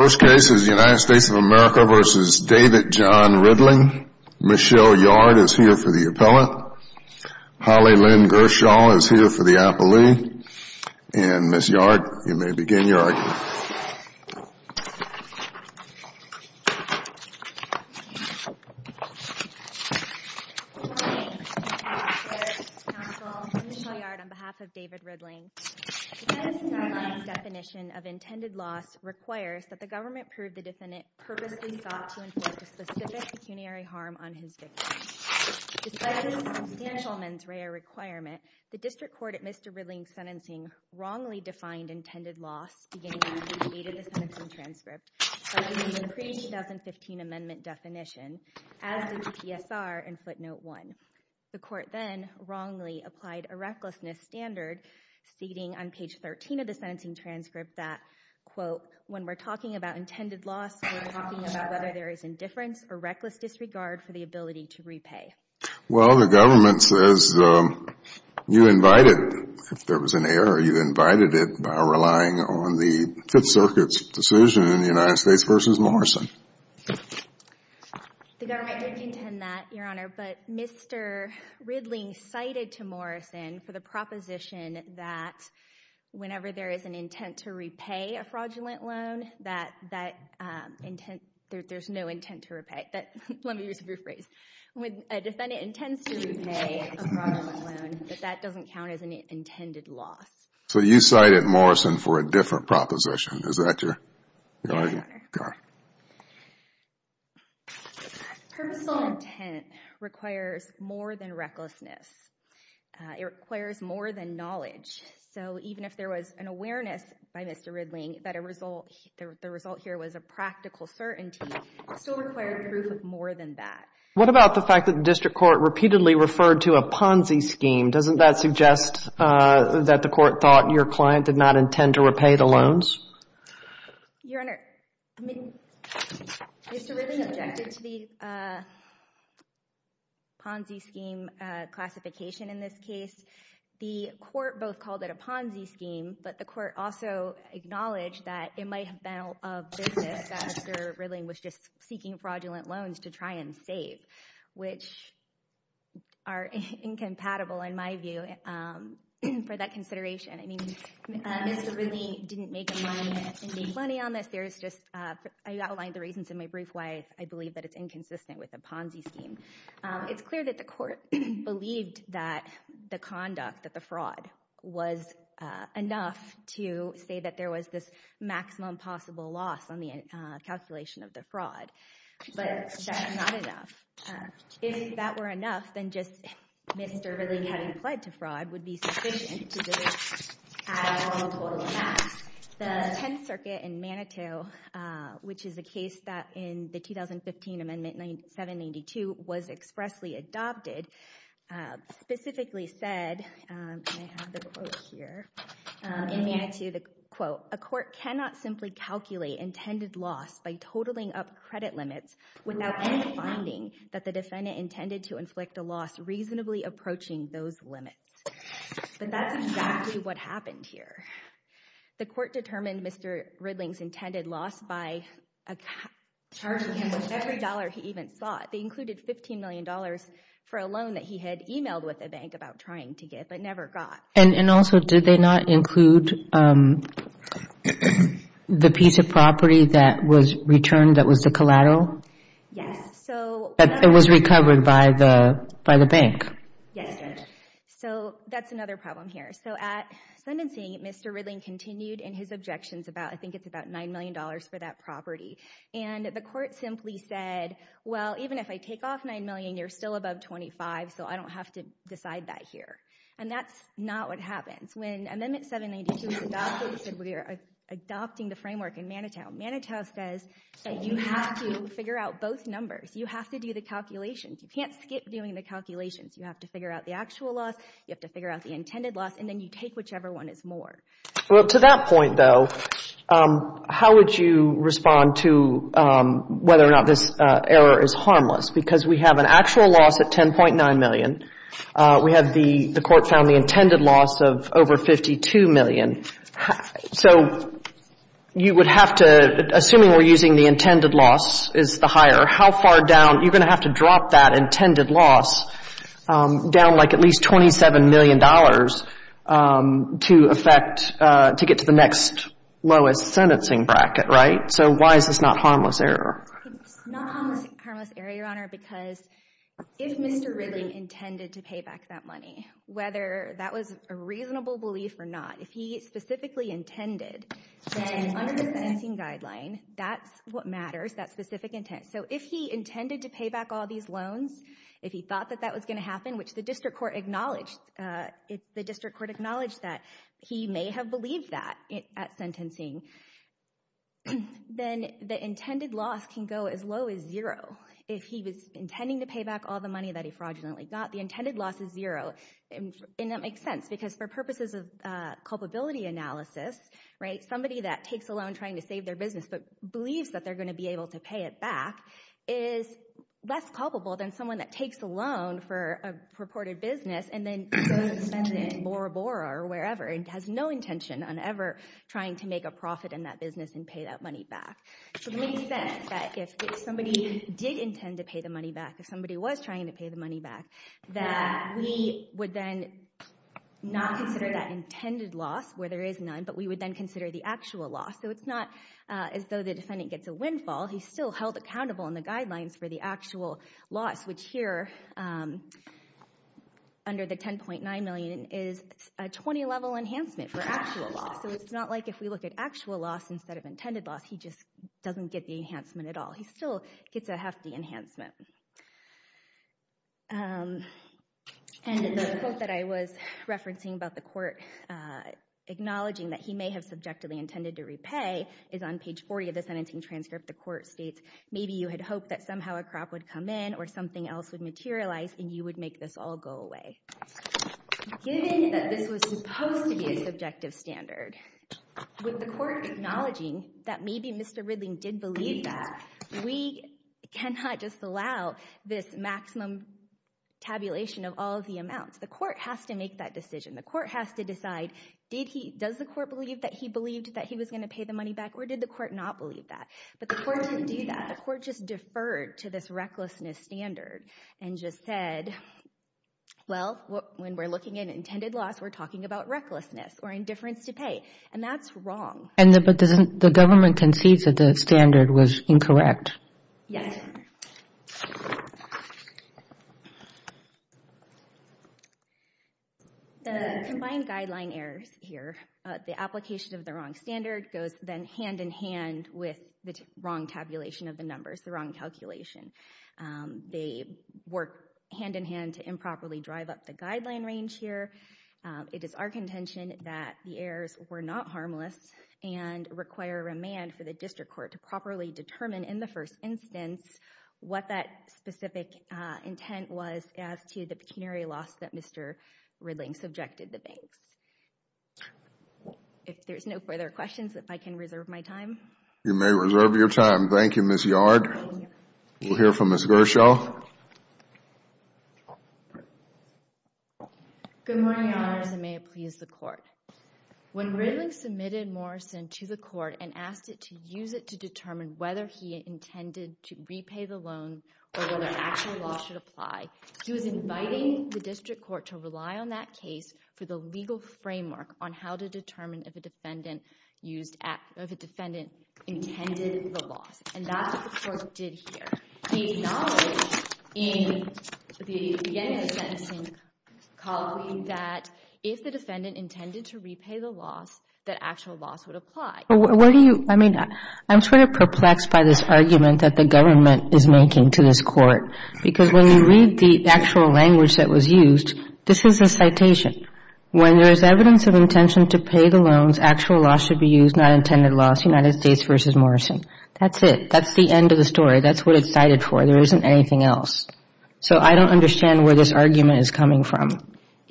Michelle Yard is here for the appellant. Holly Lynn Gershaw is here for the appellee. And Ms. Yard, you may begin your argument. Good morning. I'm Michelle Yard on behalf of David Ridling. The defense in our line's definition of intended loss requires that the government prove the defendant purposely sought to inflict a specific pecuniary harm on his victim. Despite this substantial mens rea requirement, the district court at Mr. Ridling's sentencing wrongly defined intended loss beginning with page 8 of the sentencing transcript, as in the pre-2015 amendment definition, as did the TSR in footnote 1. The court then wrongly applied a recklessness standard, ceding on page 13 of the sentencing transcript that, quote, when we're talking about intended loss, we're talking about whether there is indifference or reckless disregard for the ability to repay. Well, the government says you invited, if there was an error, you invited it by relying on the Fifth Circuit's decision in the United States v. Morrison. The government did contend that, Your Honor, but Mr. Ridling cited to Morrison for the proposition that whenever there is an intent to repay a fraudulent loan, that there's no intent to repay. Let me use a new phrase. When a defendant intends to repay a fraudulent loan, that doesn't count as an intended loss. So you cited Morrison for a different proposition. Is that your... Your Honor, purposeful intent requires more than recklessness. It requires more than knowledge. So even if there was an awareness by Mr. Ridling that the result here was a practical certainty, it still required proof of more than that. What about the fact that the district court repeatedly referred to a Ponzi scheme? Doesn't that suggest that the court thought your client did not intend to repay the loans? Your Honor, Mr. Ridling objected to the Ponzi scheme classification in this case. The court both called it a Ponzi scheme, but the court also acknowledged that it might have been of business that Mr. Ridling was just seeking fraudulent loans to try and save, which are incompatible, in my view, for that consideration. I mean, Mr. Ridling didn't make any money on this. I outlined the reasons in my brief why I believe that it's inconsistent with a Ponzi scheme. It's clear that the court believed that the conduct, that the fraud, was enough to say that there was this maximum possible loss on the calculation of the fraud. But that's not enough. If that were enough, then just Mr. Ridling having pled to fraud would be sufficient to do this at all total amounts. The Tenth Circuit in Manitou, which is a case that in the 2015 Amendment 792 was expressly adopted, specifically said, and I have the quote here, in Manitou, the quote, a court cannot simply calculate intended loss by totaling up credit limits without any finding that the defendant intended to inflict a loss reasonably approaching those limits. But that's exactly what happened here. The court determined Mr. Ridling's intended loss by charging him with every dollar he even sought. They included $15 million for a loan that he had emailed with a bank about trying to get, but never got. And also, did they not include the piece of property that was returned that was the collateral? Yes. It was recovered by the bank. Yes. So that's another problem here. So at sentencing, Mr. Ridling continued in his objections about, I think it's about $9 million for that property. And the court simply said, well, even if I take off $9 million, you're still above $25,000, so I don't have to decide that here. And that's not what happens. When Amendment 792 was adopted, we're adopting the framework in Manitou. Manitou says that you have to figure out both numbers. You have to do the calculations. You can't skip doing the calculations. You have to figure out the actual loss, you have to figure out the intended loss, and then you take whichever one is more. Well, to that point, though, how would you respond to whether or not this error is harmless? Because we have an actual loss at $10.9 million. We have the court found the intended loss of over $52 million. So you would have to, assuming we're using the intended loss is the higher, how far down, you're going to have to drop that intended loss down like at least $27 million to affect, to get to the next lowest sentencing bracket, right? So why is this not harmless error? It's not harmless error, Your Honor, because if Mr. Ridling intended to pay back that money, whether that was a reasonable belief or not, if he specifically intended, then under the sentencing guideline, that's what matters, that specific intent. So if he intended to pay back all these loans, if he thought that that was going to happen, which the district court acknowledged that he may have believed that at sentencing, then the intended loss can go as low as zero. If he was intending to pay back all the money that he fraudulently got, the intended loss is zero. And that makes sense because for purposes of culpability analysis, right, somebody that takes a loan trying to save their business but believes that they're going to be able to pay it back is less culpable than someone that takes a loan for a purported business and then goes and spends it in Bora Bora or wherever and has no intention on ever trying to make a profit in that business and pay that money back. So it makes sense that if somebody did intend to pay the money back, if somebody was trying to pay the money back, that we would then not consider that intended loss where there is none, but we would then consider the actual loss. So it's not as though the defendant gets a windfall. He's still held accountable in the guidelines for the actual loss, which here under the $10.9 million is a 20-level enhancement for actual loss. So it's not like if we look at actual loss instead of intended loss, he just doesn't get the enhancement at all. He still gets a hefty enhancement. And the quote that I was referencing about the court acknowledging that he may have subjectively intended to repay is on page 40 of the sentencing transcript. The court states, maybe you had hoped that somehow a crop would come in or something else would materialize, and you would make this all go away. Given that this was supposed to be a subjective standard, with the court acknowledging that maybe Mr. Ridley did believe that, we cannot just allow this maximum tabulation of all of the amounts. The court has to make that decision. The court has to decide, does the court believe that he believed that he was going to pay the money back, or did the court not believe that? But the court didn't do that. The court just deferred to this recklessness standard and just said, well, when we're looking at intended loss, we're talking about recklessness or indifference to pay. And that's wrong. But the government concedes that the standard was incorrect. Yes. The combined guideline errors here, the application of the wrong standard, goes then hand-in-hand with the wrong tabulation of the numbers, the wrong calculation. They work hand-in-hand to improperly drive up the guideline range here. It is our contention that the errors were not harmless and require a remand for the district court to properly determine in the first instance what that specific intent was as to the pecuniary loss that Mr. Ridley subjected the banks. If there's no further questions, if I can reserve my time. You may reserve your time. Thank you, Ms. Yard. We'll hear from Ms. Groeschel. Good morning, Your Honors, and may it please the court. When Ridley submitted Morrison to the court and asked it to use it to determine whether he intended to repay the loan or whether actual loss should apply, he was inviting the district court to rely on that case for the legal framework on how to determine if a defendant intended the loss. And that's what the court did here. The knowledge in the beginning of the sentencing calling that if the defendant intended to repay the loss, that actual loss would apply. I'm sort of perplexed by this argument that the government is making to this court because when you read the actual language that was used, this is a citation. When there is evidence of intention to pay the loans, actual loss should be used, not intended loss, United States v. Morrison. That's it. That's the end of the story. That's what it's cited for. There isn't anything else. So I don't understand where this argument is coming from.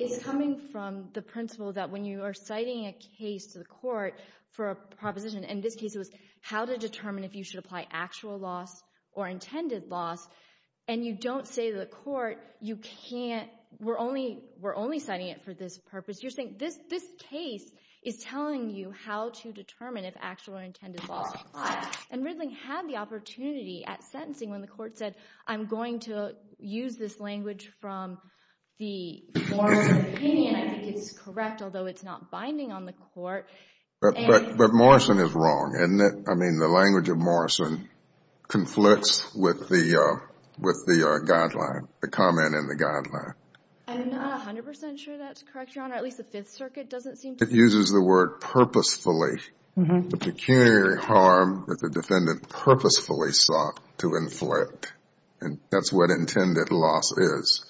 It's coming from the principle that when you are citing a case to the court for a proposition, in this case it was how to determine if you should apply actual loss or intended loss, and you don't say to the court, you can't, we're only citing it for this purpose. You're saying this case is telling you how to determine if actual or intended loss applies. And Ridling had the opportunity at sentencing when the court said, I'm going to use this language from the Morrison opinion. I think it's correct, although it's not binding on the court. But Morrison is wrong, isn't it? I mean, the language of Morrison conflicts with the guideline, the comment in the guideline. I'm not 100% sure that's correct, Your Honor. At least the Fifth Circuit doesn't seem to. It uses the word purposefully. The pecuniary harm that the defendant purposefully sought to inflict. And that's what intended loss is.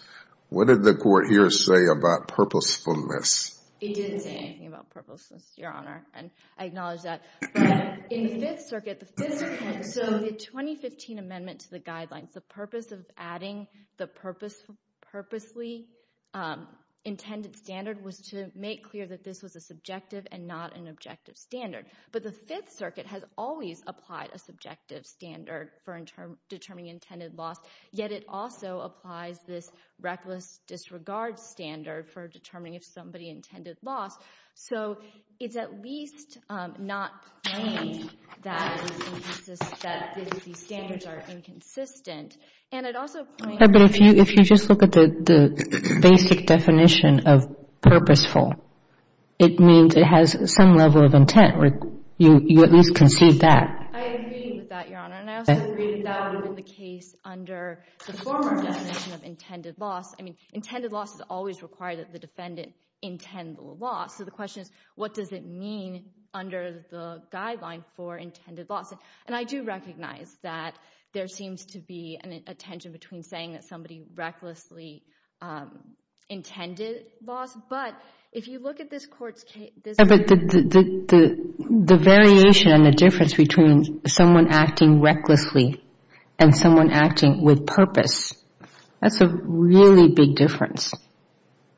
What did the court here say about purposefulness? It didn't say anything about purposefulness, Your Honor, and I acknowledge that. But in the Fifth Circuit, the Fifth Circuit, so the 2015 amendment to the guidelines, the purpose of adding the purposely intended standard was to make clear that this was a subjective and not an objective standard. But the Fifth Circuit has always applied a subjective standard for determining intended loss. Yet it also applies this reckless disregard standard for determining if somebody intended loss. So it's at least not plain that these standards are inconsistent. But if you just look at the basic definition of purposeful, it means it has some level of intent. You at least can see that. I agree with that, Your Honor. And I also agree that that would be the case under the former definition of intended loss. So the question is, what does it mean under the guideline for intended loss? And I do recognize that there seems to be a tension between saying that somebody recklessly intended loss. But if you look at this court's case – But the variation and the difference between someone acting recklessly and someone acting with purpose, that's a really big difference.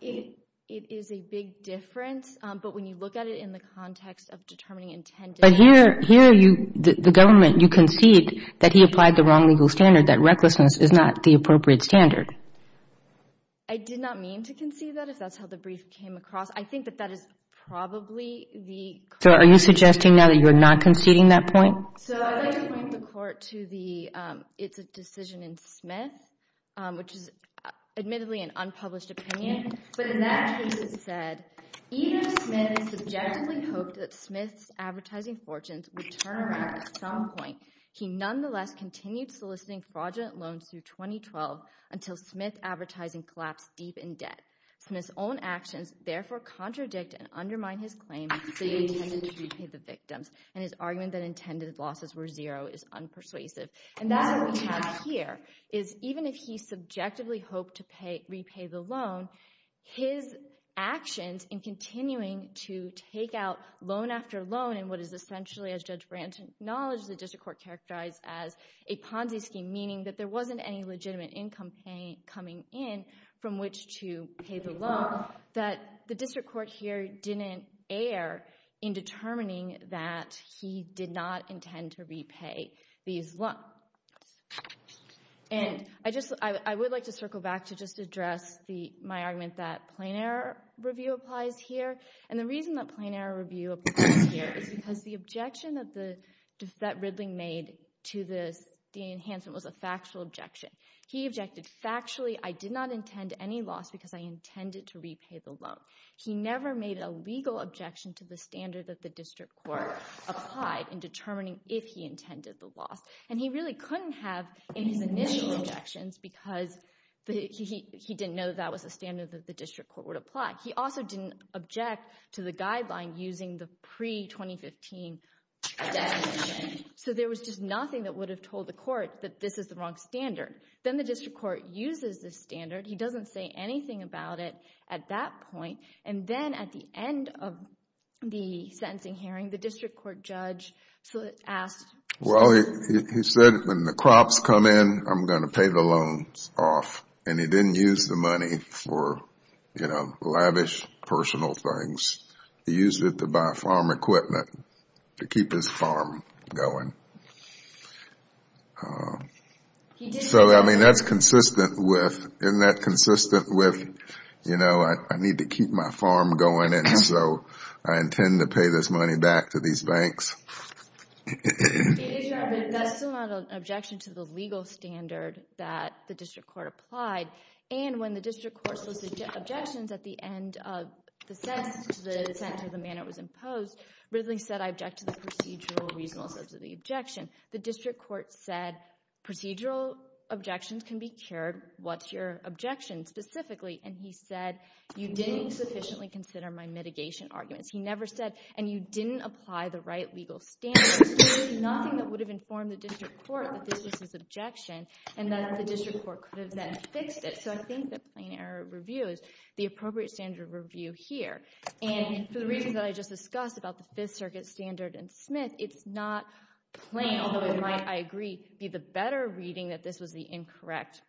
It is a big difference. But when you look at it in the context of determining intended – But here, the government, you concede that he applied the wrong legal standard, that recklessness is not the appropriate standard. I did not mean to concede that, if that's how the brief came across. I think that that is probably the – So are you suggesting now that you're not conceding that point? So I'd like to point the court to the – it's a decision in Smith, which is admittedly an unpublished opinion. But in that case, it said, Even if Smith subjectively hoped that Smith's advertising fortunes would turn around at some point, he nonetheless continued soliciting fraudulent loans through 2012 until Smith's advertising collapsed deep in debt. Smith's own actions therefore contradict and undermine his claim that he intended to repay the victims. And his argument that intended losses were zero is unpersuasive. And that's what we have here, is even if he subjectively hoped to repay the loan, his actions in continuing to take out loan after loan in what is essentially, as Judge Branton acknowledged, the district court characterized as a Ponzi scheme, meaning that there wasn't any legitimate income coming in from which to pay the loan, that the district court here didn't err in determining that he did not intend to repay these loans. And I would like to circle back to just address my argument that plain error review applies here. And the reason that plain error review applies here is because the objection that Ridley made to this DNA enhancement was a factual objection. He objected factually, I did not intend any loss because I intended to repay the loan. He never made a legal objection to the standard that the district court applied in determining if he intended the loss. And he really couldn't have in his initial objections because he didn't know that was a standard that the district court would apply. He also didn't object to the guideline using the pre-2015 DNA. So there was just nothing that would have told the court that this is the wrong standard. Then the district court uses this standard. He doesn't say anything about it at that point. And then at the end of the sentencing hearing, the district court judge asked – He used it to buy farm equipment to keep his farm going. So, I mean, that's consistent with – isn't that consistent with, you know, I need to keep my farm going and so I intend to pay this money back to these banks? That's still not an objection to the legal standard that the district court applied. And when the district court solicits objections at the end of the sentence to the manner it was imposed, Ridley said, I object to the procedural reasonableness of the objection. The district court said procedural objections can be carried. What's your objection specifically? And he said, you didn't sufficiently consider my mitigation arguments. He never said, and you didn't apply the right legal standards. There is nothing that would have informed the district court that this was his objection and that the district court could have then fixed it. So I think that plain error of review is the appropriate standard of review here. And for the reasons that I just discussed about the Fifth Circuit standard and Smith, it's not plain, although it might, I agree, be the better reading that this was the incorrect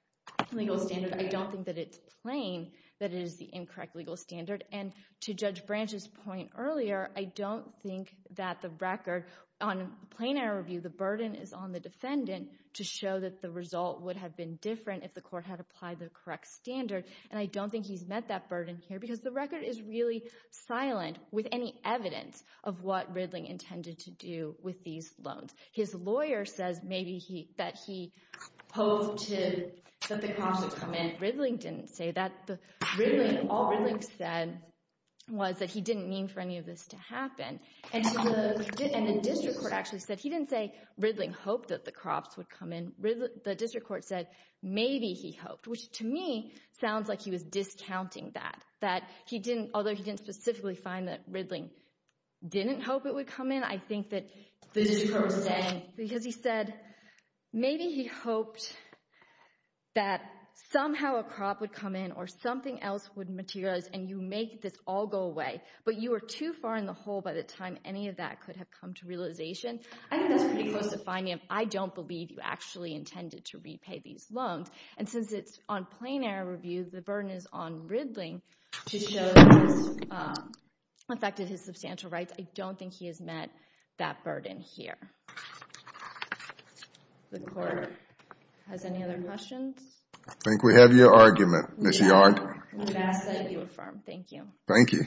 legal standard. I don't think that it's plain that it is the incorrect legal standard. And to Judge Branch's point earlier, I don't think that the record on plain error review, the burden is on the defendant to show that the result would have been different if the court had applied the correct standard. And I don't think he's met that burden here because the record is really silent with any evidence of what Ridley intended to do with these loans. His lawyer says maybe that he hoped that the cops would come in. Ridley didn't say that. All Ridley said was that he didn't mean for any of this to happen. And the district court actually said he didn't say Ridley hoped that the cops would come in. The district court said maybe he hoped, which to me sounds like he was discounting that, that although he didn't specifically find that Ridley didn't hope it would come in, I think that the district court was saying because he said maybe he hoped that somehow a cop would come in or something else would materialize and you make this all go away. But you were too far in the hole by the time any of that could have come to realization. I think that's pretty close to finding him. I don't believe you actually intended to repay these loans. And since it's on plain error review, the burden is on Ridley to show that this affected his substantial rights. I don't think he has met that burden here. The court has any other questions? I think we have your argument, Ms. Yard. Yes, I do affirm. Thank you. Thank you.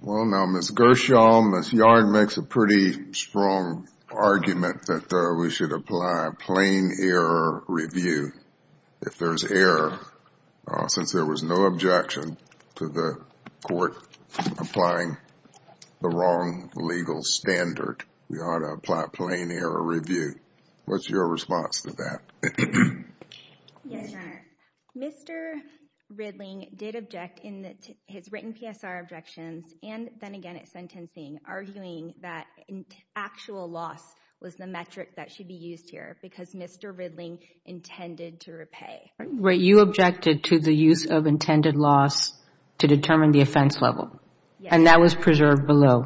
Well, now Ms. Gershaw, Ms. Yard makes a pretty strong argument that we should apply plain error review if there's error since there was no objection to the court applying the wrong legal standard. We ought to apply plain error review. What's your response to that? Yes, Your Honor. Mr. Ridley did object in his written PSR objections and then again at sentencing arguing that actual loss was the metric that should be used here because Mr. Ridley intended to repay. You objected to the use of intended loss to determine the offense level. Yes. And that was preserved below,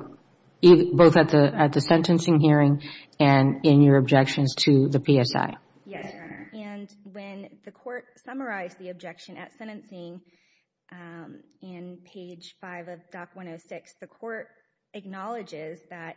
both at the sentencing hearing and in your objections to the PSI. Yes, Your Honor. And when the court summarized the objection at sentencing in page 5 of Doc 106, the court acknowledges that,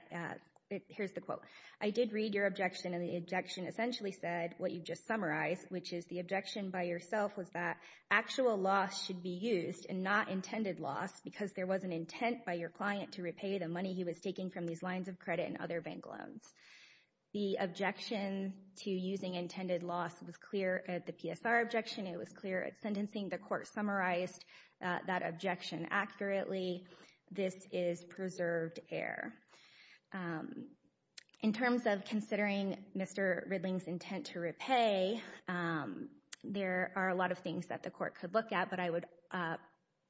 here's the quote, I did read your objection and the objection essentially said what you've just summarized, which is the objection by yourself was that actual loss should be used and not intended loss because there was an intent by your client to repay the money he was taking from these lines of credit and other bank loans. The objection to using intended loss was clear at the PSR objection. It was clear at sentencing. The court summarized that objection accurately. This is preserved error. In terms of considering Mr. Ridley's intent to repay, there are a lot of things that the court could look at, but I would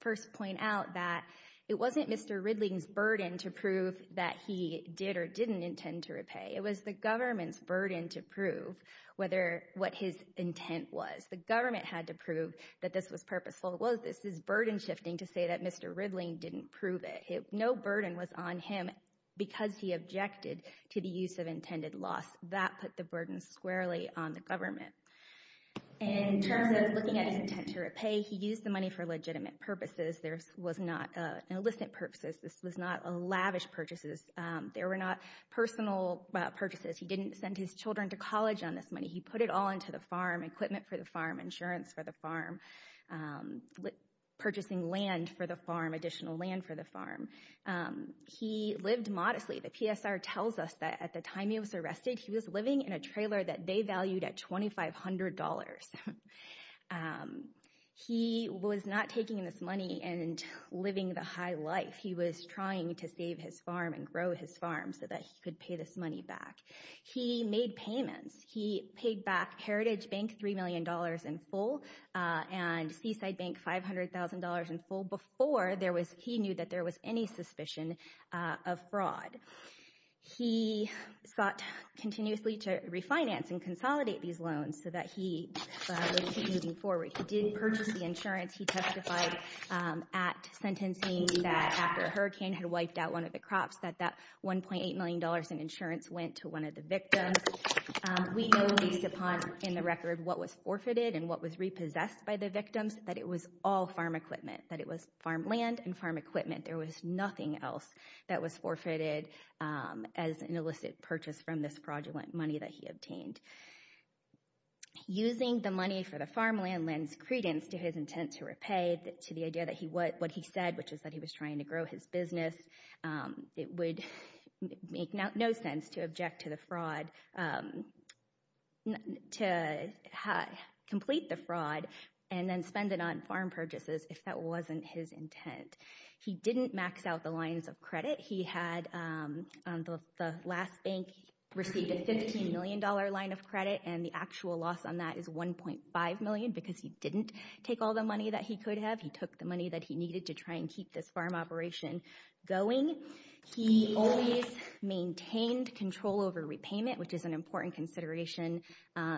first point out that it wasn't Mr. Ridley's burden to prove that he did or didn't intend to repay. It was the government's burden to prove what his intent was. The government had to prove that this was purposeful. Well, this is burden shifting to say that Mr. Ridley didn't prove it. No burden was on him because he objected to the use of intended loss. That put the burden squarely on the government. In terms of looking at his intent to repay, he used the money for legitimate purposes. This was not illicit purposes. This was not lavish purchases. There were not personal purchases. He didn't send his children to college on this money. He put it all into the farm, equipment for the farm, insurance for the farm, purchasing land for the farm, additional land for the farm. He lived modestly. The PSR tells us that at the time he was arrested, he was living in a trailer that they valued at $2,500. He was not taking this money and living the high life. He was trying to save his farm and grow his farm so that he could pay this money back. He made payments. He paid back Heritage Bank $3 million in full and Seaside Bank $500,000 in full before he knew that there was any suspicion of fraud. He sought continuously to refinance and consolidate these loans so that he would keep moving forward. He did purchase the insurance. He testified at sentencing that after a hurricane had wiped out one of the crops that that $1.8 million in insurance went to one of the victims. We know, at least in the record, what was forfeited and what was repossessed by the victims, that it was all farm equipment, that it was farm land and farm equipment. There was nothing else that was forfeited as an illicit purchase from this fraudulent money that he obtained. Using the money for the farmland lends credence to his intent to repay, to the idea that what he said, which is that he was trying to grow his business, it would make no sense to object to the fraud, to complete the fraud, and then spend it on farm purchases if that wasn't his intent. He didn't max out the lines of credit. He had on the last bank received a $15 million line of credit, and the actual loss on that is $1.5 million because he didn't take all the money that he could have. He took the money that he needed to try and keep this farm operation going. He always maintained control over repayment, which is an important consideration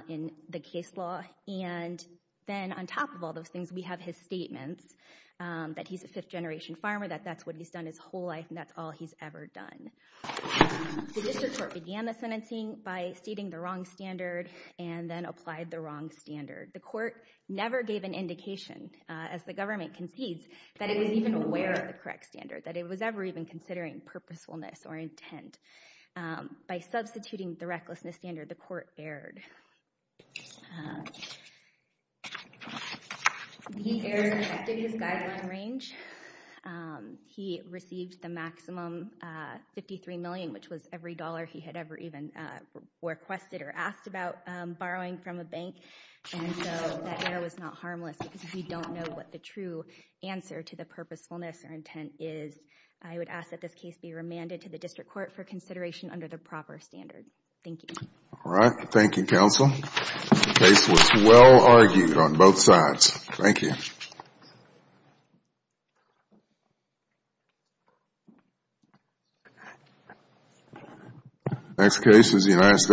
in the case law. And then on top of all those things, we have his statements that he's a fifth-generation farmer, that that's what he's done his whole life, and that's all he's ever done. The district court began the sentencing by stating the wrong standard and then applied the wrong standard. The court never gave an indication, as the government concedes, that it was even aware of the correct standard, that it was ever even considering purposefulness or intent. By substituting the recklessness standard, the court erred. He erred and affected his guideline range. He received the maximum $53 million, which was every dollar he had ever even requested or asked about borrowing from a bank, and so that error was not harmless because we don't know what the true answer to the purposefulness or intent is. I would ask that this case be remanded to the district court for consideration under the proper standard. Thank you. All right. Thank you, counsel. The case was well argued on both sides. Thank you.